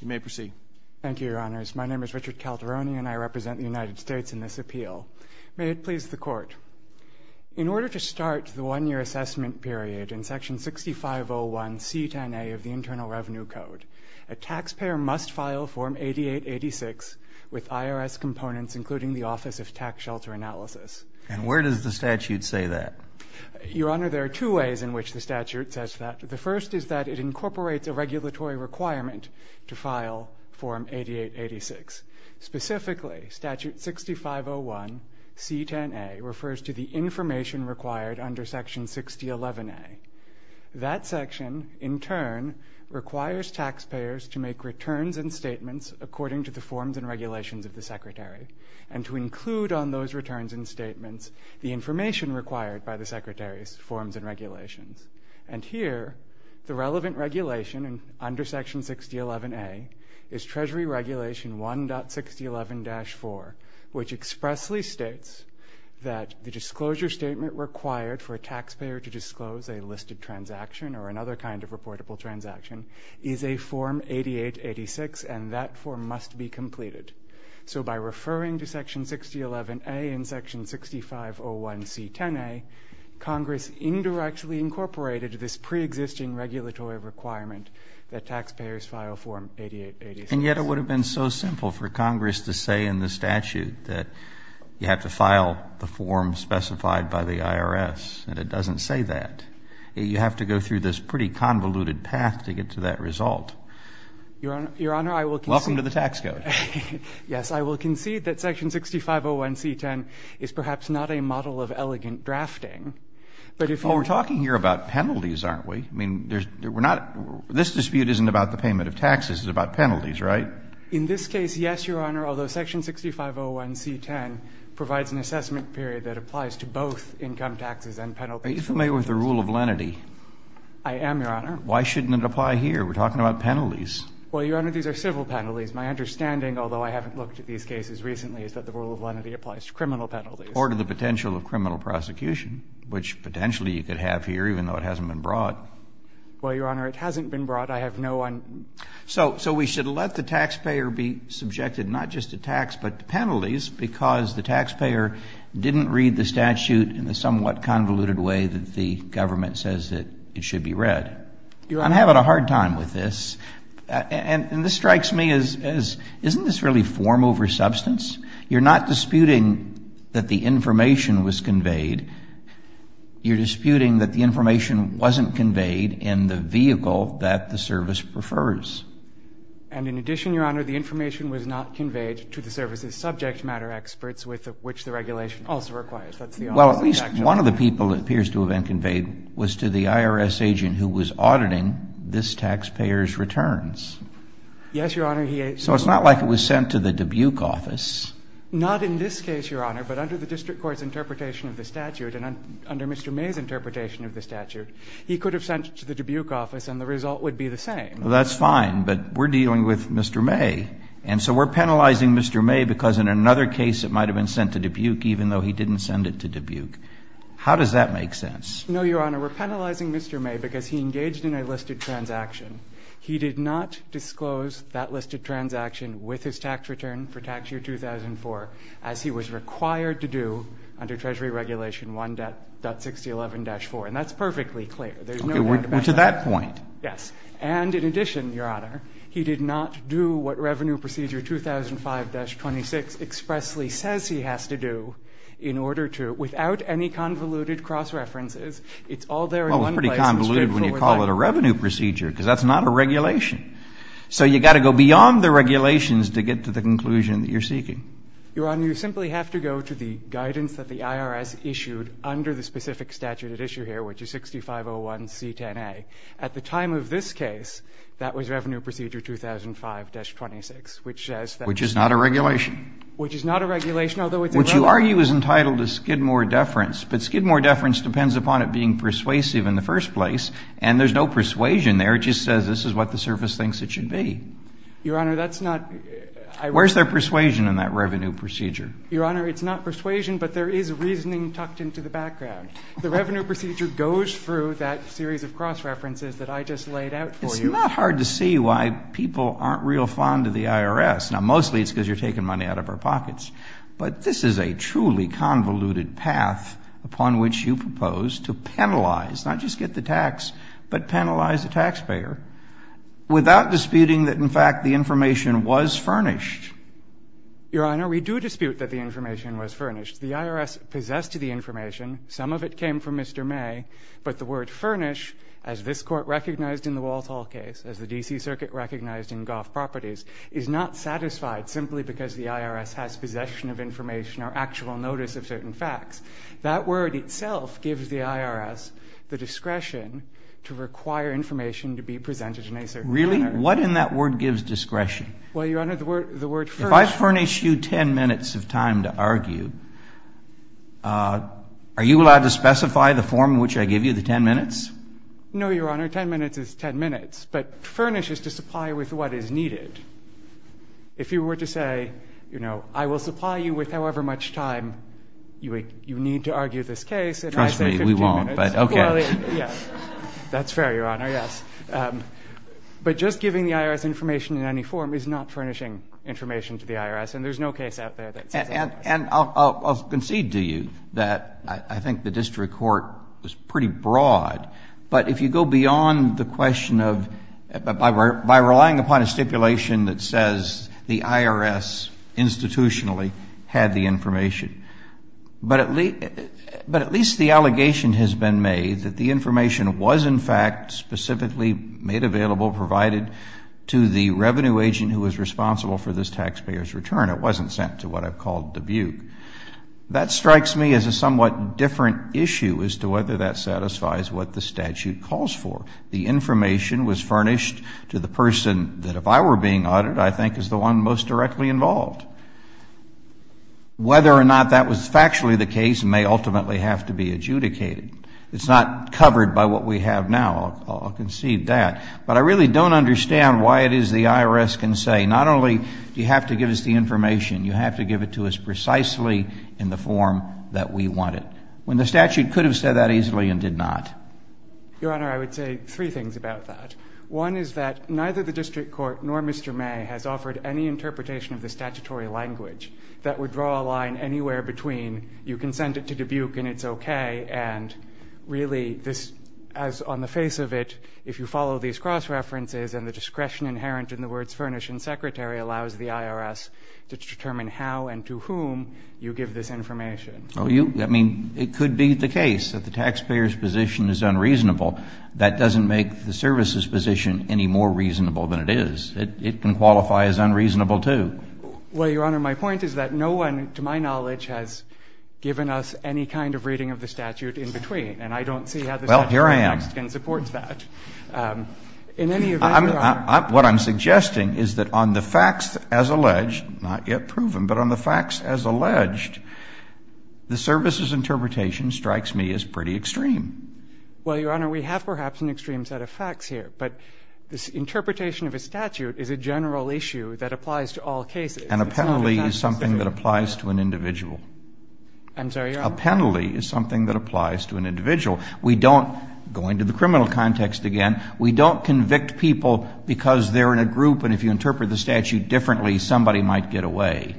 You may proceed. Thank you, Your Honors. My name is Richard Calderoni, and I represent the United States in this appeal. May it please the Court, in order to start the one-year assessment period in Section 6501 C-10A of the Internal Revenue Code, a taxpayer must file Form 8886 with IRS components, including the Office of Tax Shelter Analysis. And where does the statute say that? Your Honor, there are two ways in which the statute says that. The first is that it incorporates a regulatory requirement to file Form 8886. Specifically, Statute 6501 C-10A refers to the information required under Section 6011A. That section, in turn, requires taxpayers to make returns and statements according to the forms and regulations of the Secretary, and to include on those returns and statements the information required by the Secretary's forms and regulations. And here, the relevant regulation under Section 6011A is Treasury Regulation 1.6011-4, which expressly states that the disclosure statement required for a taxpayer to disclose a listed transaction or another kind of reportable transaction is a Form 8886, and that form must be completed. So by referring to Section 6501A, Congress indirectly incorporated this preexisting regulatory requirement that taxpayers file Form 8886. And yet it would have been so simple for Congress to say in the statute that you have to file the form specified by the IRS, and it doesn't say that. You have to go through this pretty convoluted path to get to that result. Your Honor, I will concede. Welcome to the tax code. Yes, I will concede that Section 6501 C-10 is perhaps not a model of elegant drafting, but if you're Oh, we're talking here about penalties, aren't we? I mean, we're not, this dispute isn't about the payment of taxes, it's about penalties, right? In this case, yes, Your Honor, although Section 6501 C-10 provides an assessment period that applies to both income taxes and penalties. Are you familiar with the rule of lenity? I am, Your Honor. Why shouldn't it apply here? We're talking about penalties. Well, Your Honor, these are civil penalties. My understanding, although I haven't looked at these cases recently, is that the rule of lenity applies to criminal penalties. Or to the potential of criminal prosecution, which potentially you could have here, even though it hasn't been brought. Well, Your Honor, it hasn't been brought. I have no one. So we should let the taxpayer be subjected not just to tax, but to penalties, because the taxpayer didn't read the statute in the somewhat convoluted way that the government says that it should be read. Your Honor, I'm having a hard time with this, and this strikes me as, isn't this really form over substance? You're not disputing that the information was conveyed. You're disputing that the information wasn't conveyed in the vehicle that the service prefers. And in addition, Your Honor, the information was not conveyed to the service's subject matter experts, with which the regulation also requires. Well, at least one of the people it appears to have been conveyed was to the IRS agent who was auditing this taxpayer's returns. Yes, Your Honor. So it's not like it was sent to the Dubuque office. Not in this case, Your Honor, but under the district court's interpretation of the statute and under Mr. May's interpretation of the statute, he could have sent it to the Dubuque office and the result would be the same. That's fine, but we're dealing with Mr. May, and so we're penalizing Mr. May because in another case it might have been sent to Dubuque even though he didn't send it to Dubuque. How does that make sense? No, Your Honor, we're penalizing Mr. May because he engaged in a listed transaction. He did not disclose that listed transaction with his tax return for tax year 2004 as he was required to do under Treasury Regulation 1.6011-4, and that's perfectly clear. There's no doubt about that. Okay, we're to that point. Yes. And in addition, Your Honor, he did not do what Revenue Procedure 2005-26 expressly says he has to do in order to, without any convoluted cross-references, it's all there in one place. Well, it's pretty convoluted when you call it a revenue procedure because that's not a regulation. So you've got to go beyond the regulations to get to the conclusion that you're seeking. Your Honor, you simply have to go to the guidance that the IRS issued under the specific statute at issue here, which is 6501C10A. At the time of this case, that was Revenue Procedure 2005-26, which says that. Which is not a regulation. Which is not a regulation, although it's a regulation. Which you argue is entitled to skidmore deference. But skidmore deference depends upon it being persuasive in the first place, and there's no persuasion there. It just says this is what the surface thinks it should be. Your Honor, that's not. Where's their persuasion in that revenue procedure? Your Honor, it's not persuasion, but there is reasoning tucked into the background. The Revenue Procedure goes through that series of cross-references that I just laid out for you. It's not hard to see why people aren't real fond of the IRS. Now, mostly it's because you're taking money out of our pockets. But this is a truly convoluted path upon which you propose to penalize, not just get the tax, but penalize the taxpayer without disputing that, in fact, the information was furnished. Your Honor, we do dispute that the information was furnished. The IRS possessed the information. Some of it came from Mr. May. But the word furnish, as this Court recognized in the Walt Properties, is not satisfied simply because the IRS has possession of information or actual notice of certain facts. That word itself gives the IRS the discretion to require information to be presented in a certain manner. Really? What in that word gives discretion? Well, Your Honor, the word furnish If I furnish you 10 minutes of time to argue, are you allowed to specify the form in which I give you the 10 minutes? No, Your Honor. 10 minutes is 10 minutes. But furnish is to supply you with what is needed. If you were to say, you know, I will supply you with however much time you need to argue this case, and I say 15 minutes. Trust me, we won't, but okay. Well, yes. That's fair, Your Honor, yes. But just giving the IRS information in any form is not furnishing information to the IRS, and there's no case out there that says that. And I'll concede to you that I think the district court was pretty broad, but if you go beyond the question of, by relying upon a stipulation that says the IRS institutionally had the information, but at least the allegation has been made that the information was in fact specifically made available, provided to the revenue agent who was responsible for this all, Dubuque, that strikes me as a somewhat different issue as to whether that satisfies what the statute calls for. The information was furnished to the person that, if I were being audited, I think is the one most directly involved. Whether or not that was factually the case may ultimately have to be adjudicated. It's not covered by what we have now. I'll concede that. But I really don't understand why it is the IRS can say, not only do you have to give us the information, you have to give it to us precisely in the form that we want it, when the statute could have said that easily and did not. Your Honor, I would say three things about that. One is that neither the district court nor Mr. May has offered any interpretation of the statutory language that would draw a line anywhere between, you can send it to Dubuque and it's okay, and really this, as on the face of it, if you follow these cross-references and the discretion inherent in the words furnish and secretary allows the IRS to determine how and to whom you give this information. Well, you – I mean, it could be the case that the taxpayer's position is unreasonable. That doesn't make the service's position any more reasonable than it is. It can qualify as unreasonable, too. Well, Your Honor, my point is that no one, to my knowledge, has given us any kind of reading of the statute in between. And I don't see how the statute in Lexington supports that. Well, here I am. In any event, Your Honor – What I'm suggesting is that on the facts as alleged, not yet proven, but on the facts as alleged, the service's interpretation strikes me as pretty extreme. Well, Your Honor, we have perhaps an extreme set of facts here. But this interpretation of a statute is a general issue that applies to all cases. And a penalty is something that applies to an individual. I'm sorry, Your Honor? A penalty is something that applies to an individual. We don't, going to the criminal context again, we don't convict people because they're in a group, and if you interpret the statute differently, somebody might get away.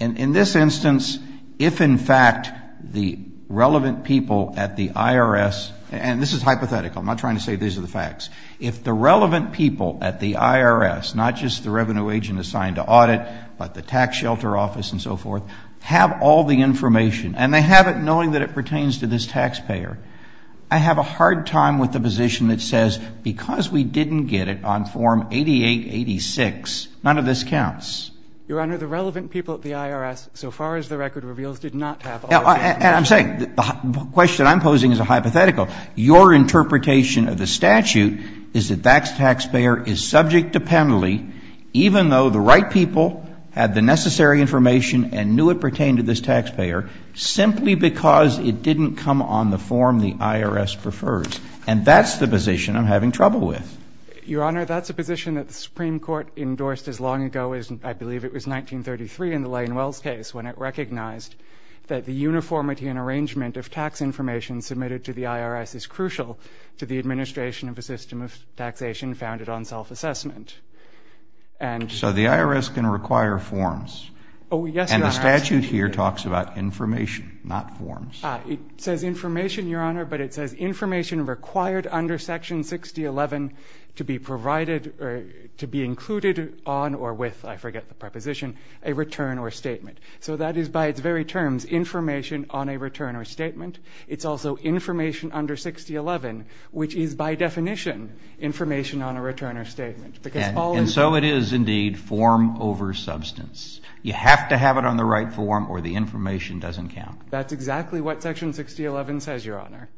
In this instance, if in fact the relevant people at the IRS – and this is hypothetical, I'm not trying to say these are the facts – if the relevant people at the IRS, not just the revenue agent assigned to audit, but the tax shelter office and so forth, have all the information, and they have it knowing that it pertains to this taxpayer, I have a hard time with the position that says, because we didn't get it on Form 8886, none of this counts. Your Honor, the relevant people at the IRS, so far as the record reveals, did not have all the information. And I'm saying, the question I'm posing is a hypothetical. Your interpretation of the statute is that that taxpayer is subject to penalty, even though the right people had the necessary information and knew it pertained to this taxpayer, simply because it didn't come on the form the IRS prefers. And that's the position I'm having trouble with. Your Honor, that's a position that the Supreme Court endorsed as long ago as, I believe it was 1933 in the Lane-Wells case, when it recognized that the uniformity and arrangement of tax information submitted to the IRS is crucial to the administration of a system of taxation founded on self-assessment. Oh, yes, Your Honor. And the statute here talks about information, not forms. It says information, Your Honor, but it says information required under Section 6011 to be provided or to be included on or with, I forget the preposition, a return or statement. So that is, by its very terms, information on a return or statement. It's also information under 6011, which is, by definition, information on a return or statement. And so it is, indeed, form over substance. You have to have it on the right form or the information doesn't count. That's exactly what Section 6011 says, Your Honor,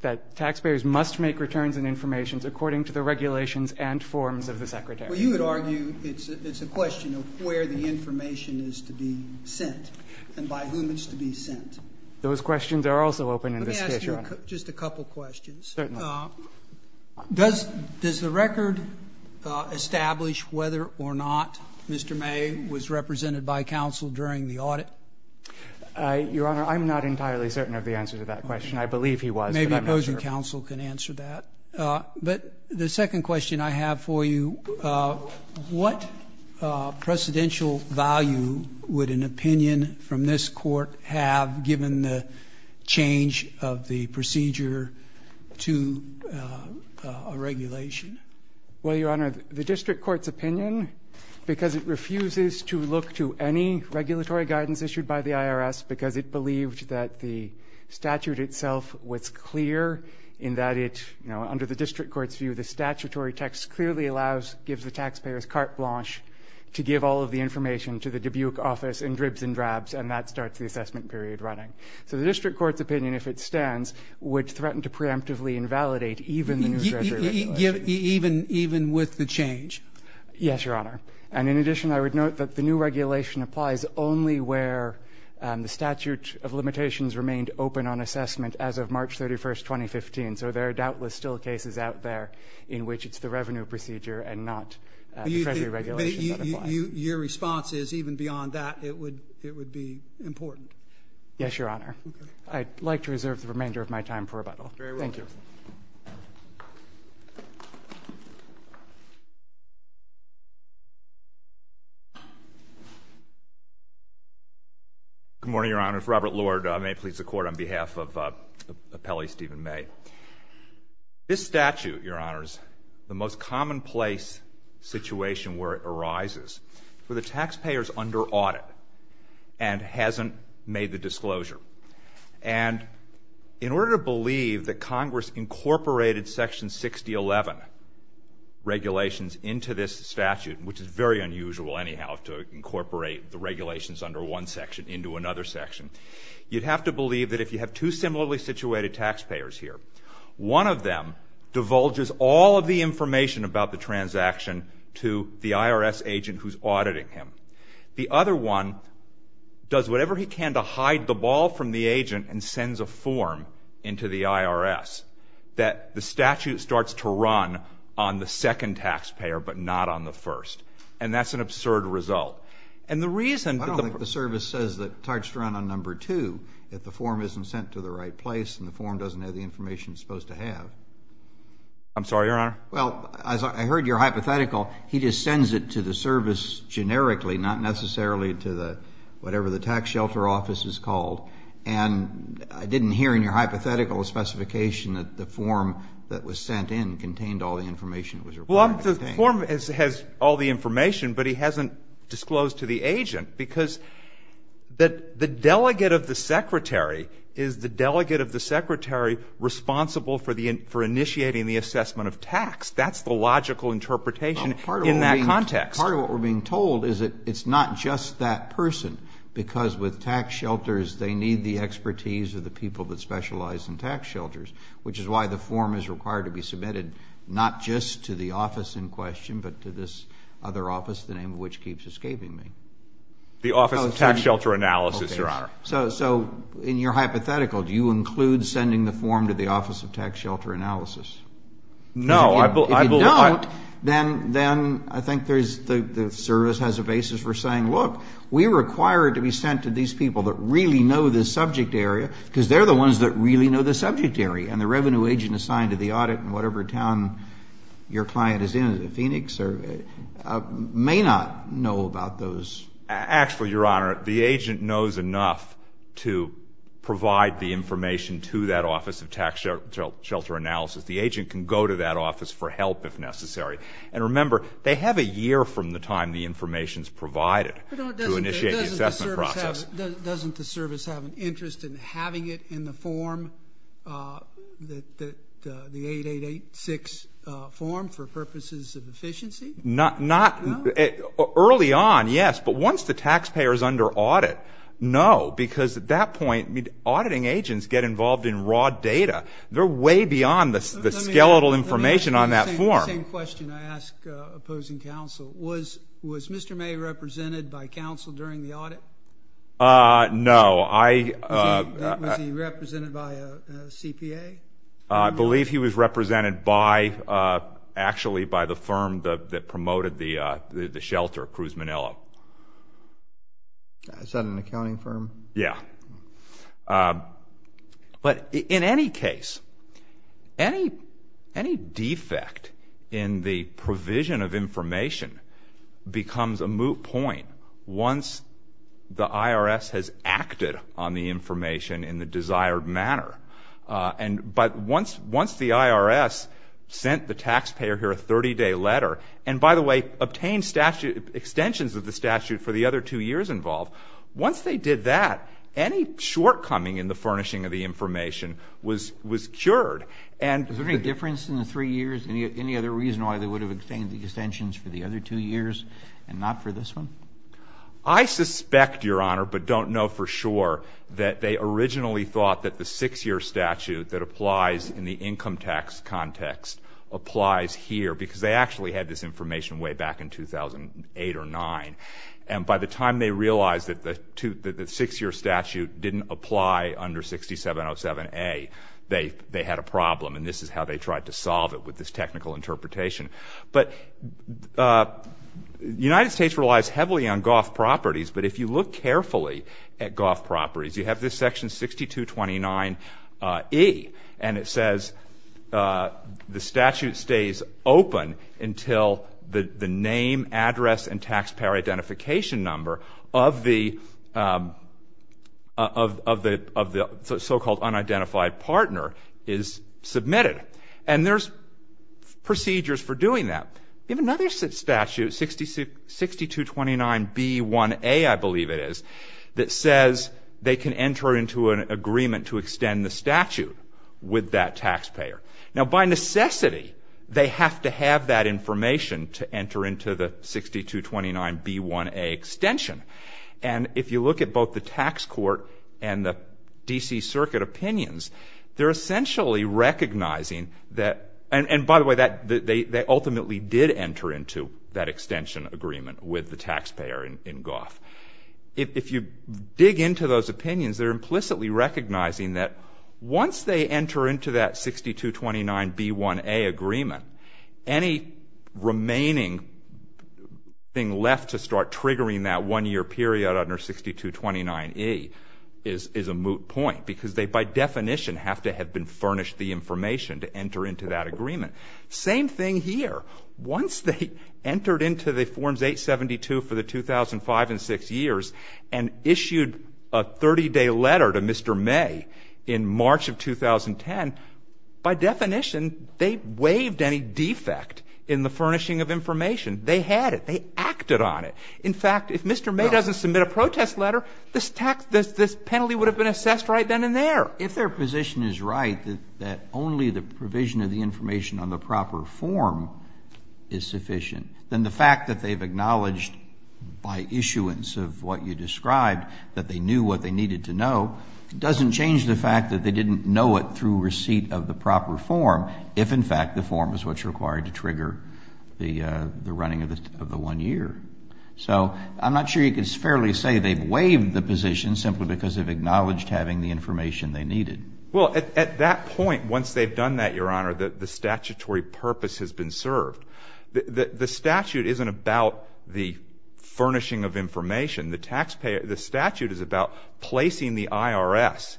that taxpayers must make returns and informations according to the regulations and forms of the Secretary. Well, you would argue it's a question of where the information is to be sent and by whom it's to be sent. Those questions are also open in this case, Your Honor. Let me ask you just a couple questions. Certainly. Does the record establish whether or not Mr. May was represented by counsel during the audit? Your Honor, I'm not entirely certain of the answer to that question. I believe he was, but I'm not sure. Maybe opposing counsel can answer that. But the second question I have for you, what precedential value would an opinion from this Court have given the change of the procedure to a regulation? Well, Your Honor, the District Court's opinion, because it refuses to look to any regulatory guidance issued by the IRS because it believed that the statute itself was clear in that it, you know, under the District Court's view, the statutory text clearly allows, gives the taxpayers carte blanche to give all of the information to the Dubuque office in dribs and drabs and that starts the assessment period running. So the District Court's opinion, if it stands, would threaten to preemptively invalidate even the new Treasury regulation. Even with the change? Yes, Your Honor. And in addition, I would note that the new regulation applies only where the statute of limitations remained open on assessment as of March 31st, 2015. So there are doubtless still cases out there in which it's the revenue procedure and not the Treasury regulation that applies. Your response is even beyond that, it would be important? Yes, Your Honor. I'd like to reserve the remainder of my time for rebuttal. Thank you. Good morning, Your Honors. Robert Lord, may it please the Court, on behalf of Appellee Stephen May. This statute, Your Honors, the most commonplace situation where it arises, where the taxpayer's under audit and hasn't made the disclosure. And in order to believe that Congress incorporated Section 6011 regulations into this statute, which is very unusual anyhow to incorporate the regulations under one section into another section, you'd have to believe that if you have two similarly situated taxpayers here, one of them divulges all of the information about the transaction to the IRS agent who's auditing him. The other one does whatever he can to hide the ball from the agent and sends a form into the IRS that the statute starts to run on the second taxpayer, but not on the first. And that's an absurd result. And the reason that the- I don't think the service says the charge to run on number two, if the form isn't sent to the right place and the form doesn't have the information it's supposed to have. I'm sorry, Your Honor? Well, as I heard your hypothetical, he just sends it to the service generically, not necessarily to the, whatever the tax shelter office is called. And I didn't hear in your hypothetical a specification that the form that was sent in contained all the information that was required to contain it. Well, the form has all the information, but he hasn't disclosed to the agent. Because the delegate of the secretary is the delegate of the secretary responsible for initiating the assessment of tax. That's the logical interpretation in that context. Part of what we're being told is that it's not just that person. Because with tax shelters, they need the expertise of the people that specialize in tax shelters. Which is why the form is required to be submitted not just to the office in question, but to this other office, the name of which keeps escaping me. The Office of Tax Shelter Analysis, Your Honor. So, in your hypothetical, do you include sending the form to the Office of Tax Shelter Analysis? No, I believe not. If you don't, then I think the service has a basis for saying, look, we require it to be sent to these people that really know this subject area, because they're the ones that really know this subject area. And the revenue agent assigned to the audit in whatever town your client is in, in Phoenix, may not know about those. Actually, Your Honor, the agent knows enough to provide the information to that Office of Tax Shelter Analysis. The agent can go to that office for help if necessary. And remember, they have a year from the time the information is provided to initiate the assessment process. Doesn't the service have an interest in having it in the form, the 8886 form, for purposes of efficiency? Not early on, yes. But once the taxpayer is under audit, no. Because at that point, auditing agents get involved in raw data. They're way beyond the skeletal information on that form. Let me ask you the same question I ask opposing counsel. Was Mr. May represented by counsel during the audit? No. Was he represented by a CPA? I believe he was represented by, actually, by the firm that promoted the shelter, Cruz Manillo. Is that an accounting firm? Yeah. But in any case, any defect in the provision of information becomes a moot point once the IRS has acted on the information in the desired manner But once the IRS sent the taxpayer here a 30-day letter, and by the way, obtained extensions of the statute for the other two years involved, once they did that, any shortcoming in the furnishing of the information was cured. Is there any difference in the three years? Any other reason why they would have obtained the extensions for the other two years and not for this one? I suspect, Your Honor, but don't know for sure that they originally thought that the six-year statute that applies in the income tax context applies here, because they actually had this information way back in 2008 or 2009. And by the time they realized that the six-year statute didn't apply under 6707A, they had a problem. And this is how they tried to solve it with this technical interpretation. But the United States relies heavily on golf properties. But if you look carefully at golf properties, you have this section 6229E. And it says the statute stays open until the name, address, and taxpayer identification number of the so-called unidentified partner is submitted. And there's procedures for doing that. You have another statute, 6229B1A, I believe it is, that says they can enter into an agreement to extend the statute with that taxpayer. Now, by necessity, they have to have that information to enter into the 6229B1A extension. And if you look at both the tax court and the D.C. Circuit opinions, they're essentially recognizing that, and by the way, they ultimately did enter into that extension agreement with the taxpayer in golf. If you dig into those opinions, they're implicitly recognizing that once they enter into that 6229B1A agreement, any remaining thing left to start triggering that one-year period under 6229E is a moot point because they, by definition, have to have been furnished the information to enter into that agreement. Same thing here. Once they entered into the Forms 872 for the 2005 and 2006 years and issued a 30-day letter to Mr. May in March of 2010, by definition, they waived any defect in the furnishing of information. They had it. They acted on it. In fact, if Mr. May doesn't submit a protest letter, this penalty would have been assessed right then and there. If their position is right that only the provision of the information on the proper form is sufficient, then the fact that they've acknowledged by issuance of what you described that they knew what they needed to know doesn't change the fact that they didn't know it through receipt of the proper form, if in fact the form is what's required to trigger the running of the one year. So I'm not sure you can fairly say they've waived the position simply because they've acknowledged having the information they needed. Well, at that point, once they've done that, Your Honor, the statutory purpose has been served. The statute isn't about the furnishing of information. The statute is about placing the IRS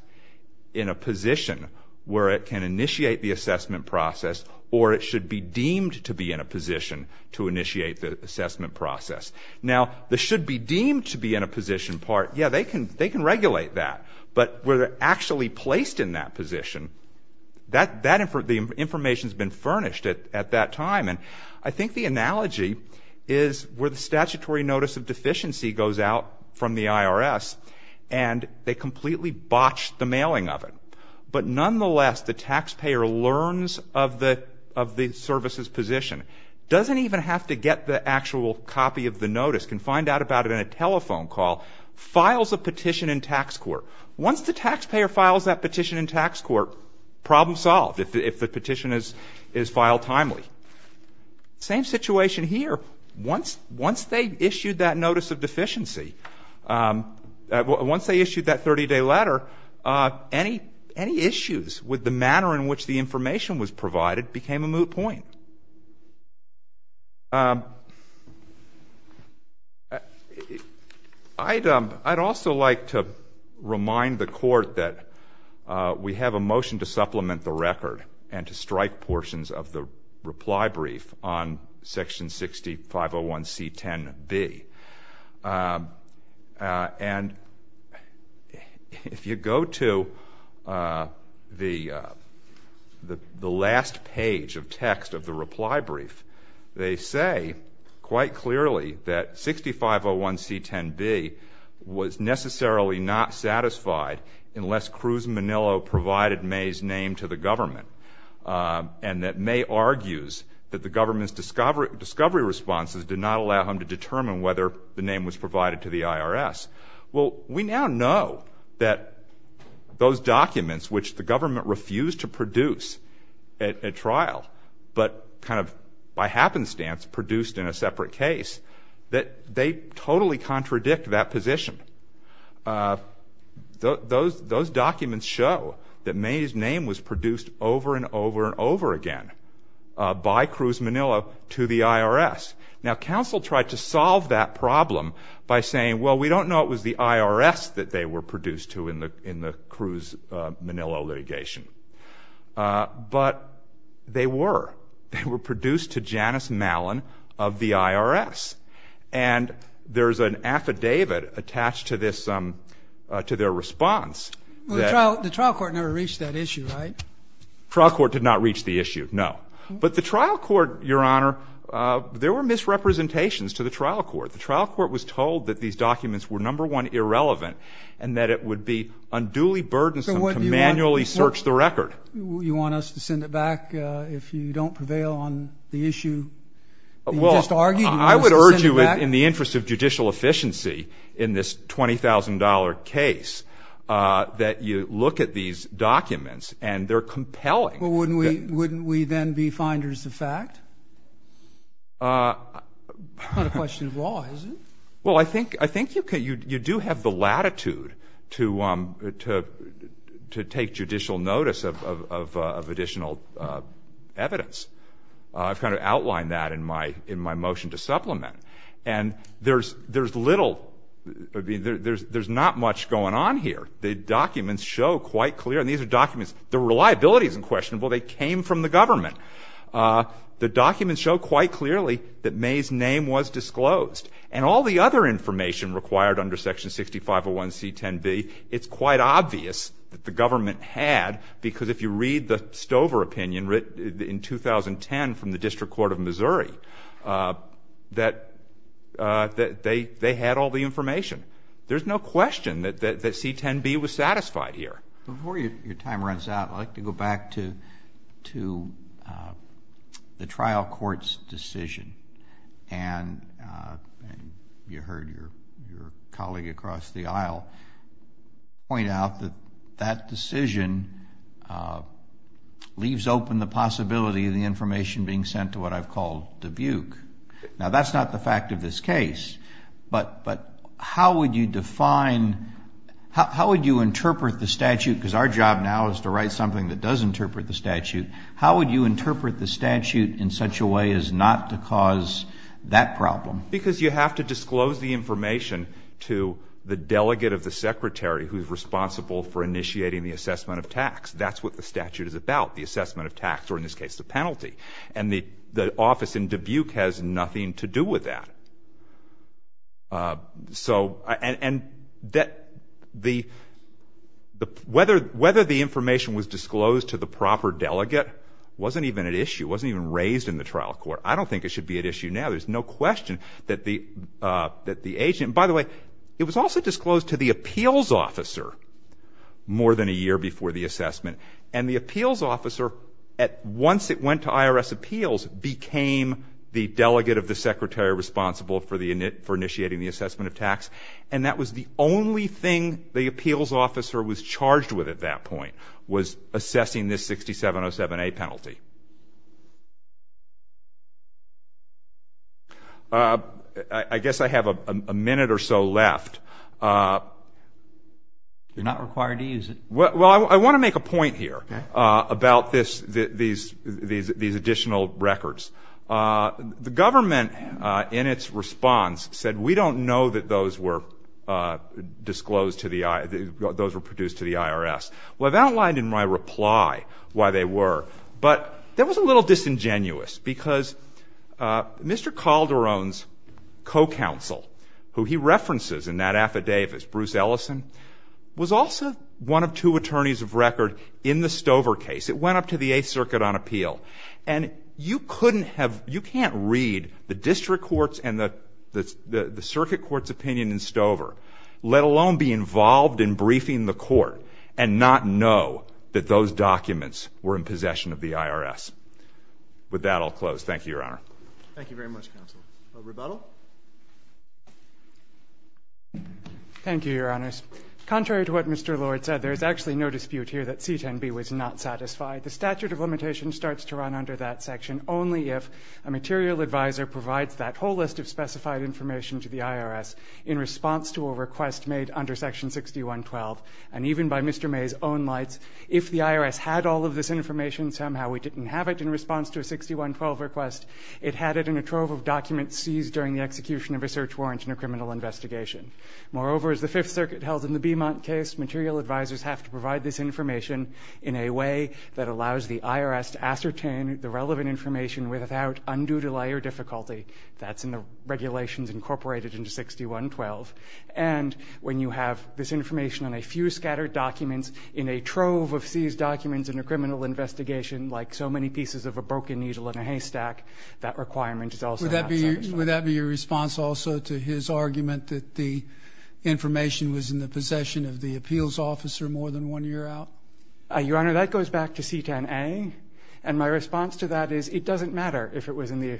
in a position where it can initiate the assessment process or it should be deemed to be in a position to initiate the assessment process. Now, the should be deemed to be in a position part, yeah, they can regulate that. But where they're actually placed in that position, that information has been furnished at that time. And I think the analogy is where the statutory notice of deficiency goes out from the IRS and they completely botched the mailing of it. But nonetheless, the taxpayer learns of the service's position, doesn't even have to get the actual copy of the notice, can find out about it in a telephone call, files a petition in tax court. Once the taxpayer files that petition in tax court, problem solved if the petition is filed timely. Same situation here. Once they issued that notice of deficiency, once they issued that 30-day letter, any issues with the manner in which the information was provided became a moot point. I'd also like to remind the court that we have a motion to supplement the record and to strike portions of the reply brief on section 6501C10B. And if you go to the last page of text of the reply brief, they say quite clearly that 6501C10B was necessarily not satisfied unless Cruz Manillo provided May's name to the government and that May argues that the government's discovery responses did not allow him to determine whether the name was provided to the IRS. Well, we now know that those documents which the government refused to produce at trial, but kind of by happenstance produced in a separate case, that they totally contradict that position. Those documents show that May's name was produced over and over and over again by Cruz Manillo to the IRS. Now, counsel tried to solve that problem by saying, well, we don't know it was the IRS that they were produced to in the Cruz Manillo litigation. But they were. They were produced to Janice Mallon of the IRS. And there's an affidavit attached to this, to their response. The trial court never reached that issue, right? Trial court did not reach the issue, no. But the trial court, Your Honor, there were misrepresentations to the trial court. The trial court was told that these documents were number one, irrelevant, and that it would be unduly burdensome to manually search the record. You want us to send it back if you don't prevail on the issue you just argued? Well, I would urge you in the interest of judicial efficiency in this $20,000 case that you look at these documents and they're compelling. But wouldn't we then be finders of fact? It's not a question of law, is it? Well, I think you do have the latitude to take judicial notice of additional evidence. I've kind of outlined that in my motion to supplement. And there's little, I mean, there's not much going on here. The documents show quite clear, and these are documents, the reliability is unquestionable. They came from the government. The documents show quite clearly that May's name was disclosed. And all the other information required under Section 6501C10B, it's quite obvious that the government had because if you read the Stover opinion written in 2010 from the District Court of Missouri, that they had all the information. There's no question that C10B was satisfied here. Before your time runs out, I'd like to go back to the trial court's decision. And you heard your colleague across the aisle point out that that decision leaves open the possibility of the information being sent to what I've called Dubuque. Now, that's not the fact of this case. But how would you define, how would you interpret the statute? Because our job now is to write something that does interpret the statute. How would you interpret the statute in such a way as not to cause that problem? Because you have to disclose the information to the delegate of the secretary who's responsible for initiating the assessment of tax. That's what the statute is about, the assessment of tax, or in this case, the penalty. And the office in Dubuque has nothing to do with that. So, and that the, whether the information was disclosed to the proper delegate wasn't even an issue, wasn't even raised in the trial court. I don't think it should be an issue now. There's no question that the agent, and by the way, it was also disclosed to the appeals officer more than a year before the assessment. And the appeals officer, once it went to IRS appeals, became the delegate of the secretary responsible for initiating the assessment of tax. And that was the only thing the appeals officer was charged with at that point, was assessing this 6707A penalty. I guess I have a minute or so left. You're not required to use it. Well, I want to make a point here about this, these additional records. The government, in its response, said we don't know that those were disclosed to the, those were produced to the IRS. Well, I've outlined in my reply why they were, but that was a little disingenuous because Mr. Calderon's co-counsel, who he references in that affidavit, Bruce Ellison, was also one of two attorneys of record in the Stover case. It went up to the Eighth Circuit on appeal. And you couldn't have, you can't read the district courts and the, the circuit court's opinion in Stover, let alone be involved in briefing the court and not know that those documents were in possession of the IRS. With that, I'll close. Thank you, Your Honor. Thank you very much, Counsel. Over to Buttle. Thank you, Your Honors. Contrary to what Mr. Lord said, there's actually no dispute here that C-10B was not satisfied. The statute of limitations starts to run under that section only if a material advisor provides that whole list of specified information to the IRS in response to a request made under Section 6112. And even by Mr. May's own lights, if the IRS had all of this information, somehow we didn't have it in response to a 6112 request. It had it in a trove of documents seized during the execution of a search warrant in a criminal investigation. Moreover, as the Fifth Circuit held in the Beemont case, material advisors have to provide this information in a way that allows the IRS to ascertain the relevant information without undue delay or difficulty. That's in the regulations incorporated into 6112. And when you have this information on a few scattered documents in a trove of seized documents in a criminal investigation, like so many pieces of a broken needle in a haystack, that requirement is also not satisfied. Would that be your response also to his argument that the information was in the possession of the appeals officer more than one year out? Your Honor, that goes back to C-10A. And my response to that is it doesn't matter if it was in the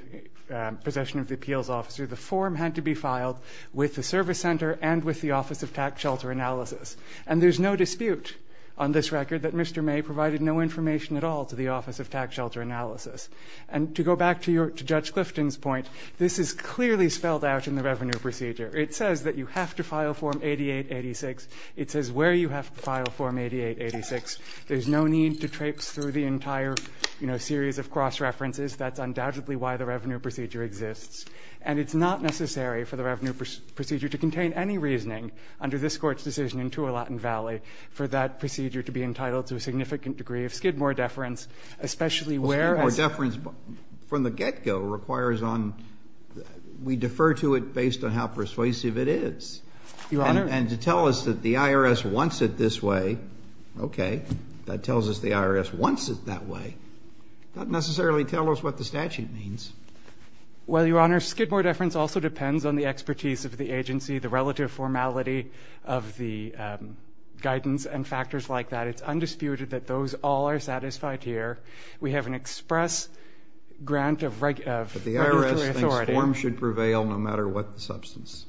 possession of the appeals officer. The form had to be filed with the service center and with the Office of Tax Shelter Analysis. And there's no dispute on this record that Mr. May provided no information at all to the Office of Tax Shelter Analysis. And to go back to Judge Clifton's point, this is clearly spelled out in the Revenue Procedure. It says that you have to file Form 8886. It says where you have to file Form 8886. There's no need to traipse through the entire series of cross-references. That's undoubtedly why the Revenue Procedure exists. And it's not necessary for the Revenue Procedure to contain any reasoning under this Court's decision in Tualatin Valley for that procedure to be entitled to a significant degree of Skidmore deference, especially where it's... Well, Skidmore deference from the get-go requires on... We defer to it based on how persuasive it is. Your Honor... And to tell us that the IRS wants it this way, okay, that tells us the IRS wants it that way, doesn't necessarily tell us what the statute means. Well, Your Honor, Skidmore deference also depends on the expertise of the agency, the guidance, and factors like that. It's undisputed that those all are satisfied here. We have an express grant of regulatory authority. But the IRS thinks forms should prevail no matter what the substance.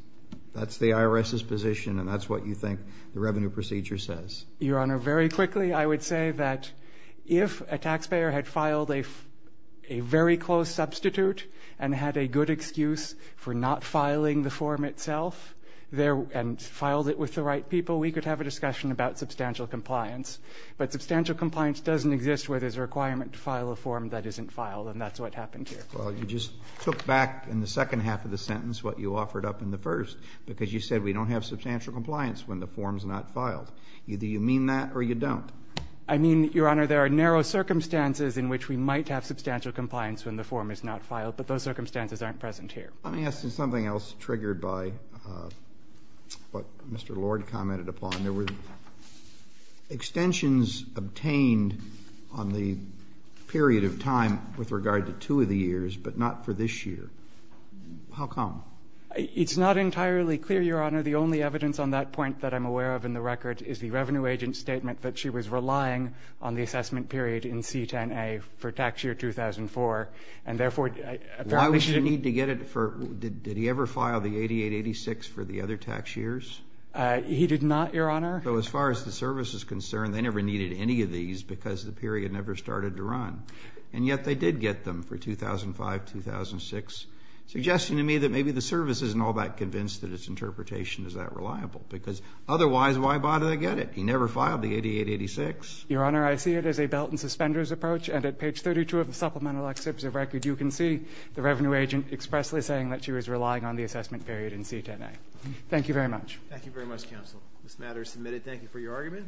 That's the IRS's position, and that's what you think the Revenue Procedure says. Your Honor, very quickly, I would say that if a taxpayer had filed a very close substitute and had a good excuse for not filing the form itself, and filed it with the right people, we could have a discussion about substantial compliance. But substantial compliance doesn't exist where there's a requirement to file a form that isn't filed, and that's what happened here. Well, you just took back in the second half of the sentence what you offered up in the first, because you said we don't have substantial compliance when the form's not filed. Either you mean that or you don't. I mean, Your Honor, there are narrow circumstances in which we might have substantial compliance when the form is not filed, but those circumstances aren't present here. Let me ask you something else triggered by what Mr. Lord commented upon. There were extensions obtained on the period of time with regard to two of the years, but not for this year. How come? It's not entirely clear, Your Honor. The only evidence on that point that I'm aware of in the record is the revenue agent's relying on the assessment period in C-10A for tax year 2004, and therefore, apparently shouldn't Why would you need to get it for, did he ever file the 88-86 for the other tax years? He did not, Your Honor. So as far as the service is concerned, they never needed any of these because the period never started to run, and yet they did get them for 2005-2006, suggesting to me that maybe the service isn't all that convinced that its interpretation is that reliable, because otherwise, why bother to get it? He never filed the 88-86. Your Honor, I see it as a belt-and-suspenders approach, and at page 32 of the supplemental excerpts of record, you can see the revenue agent expressly saying that she was relying on the assessment period in C-10A. Thank you very much. Thank you very much, counsel. This matter is submitted. Thank you for your argument.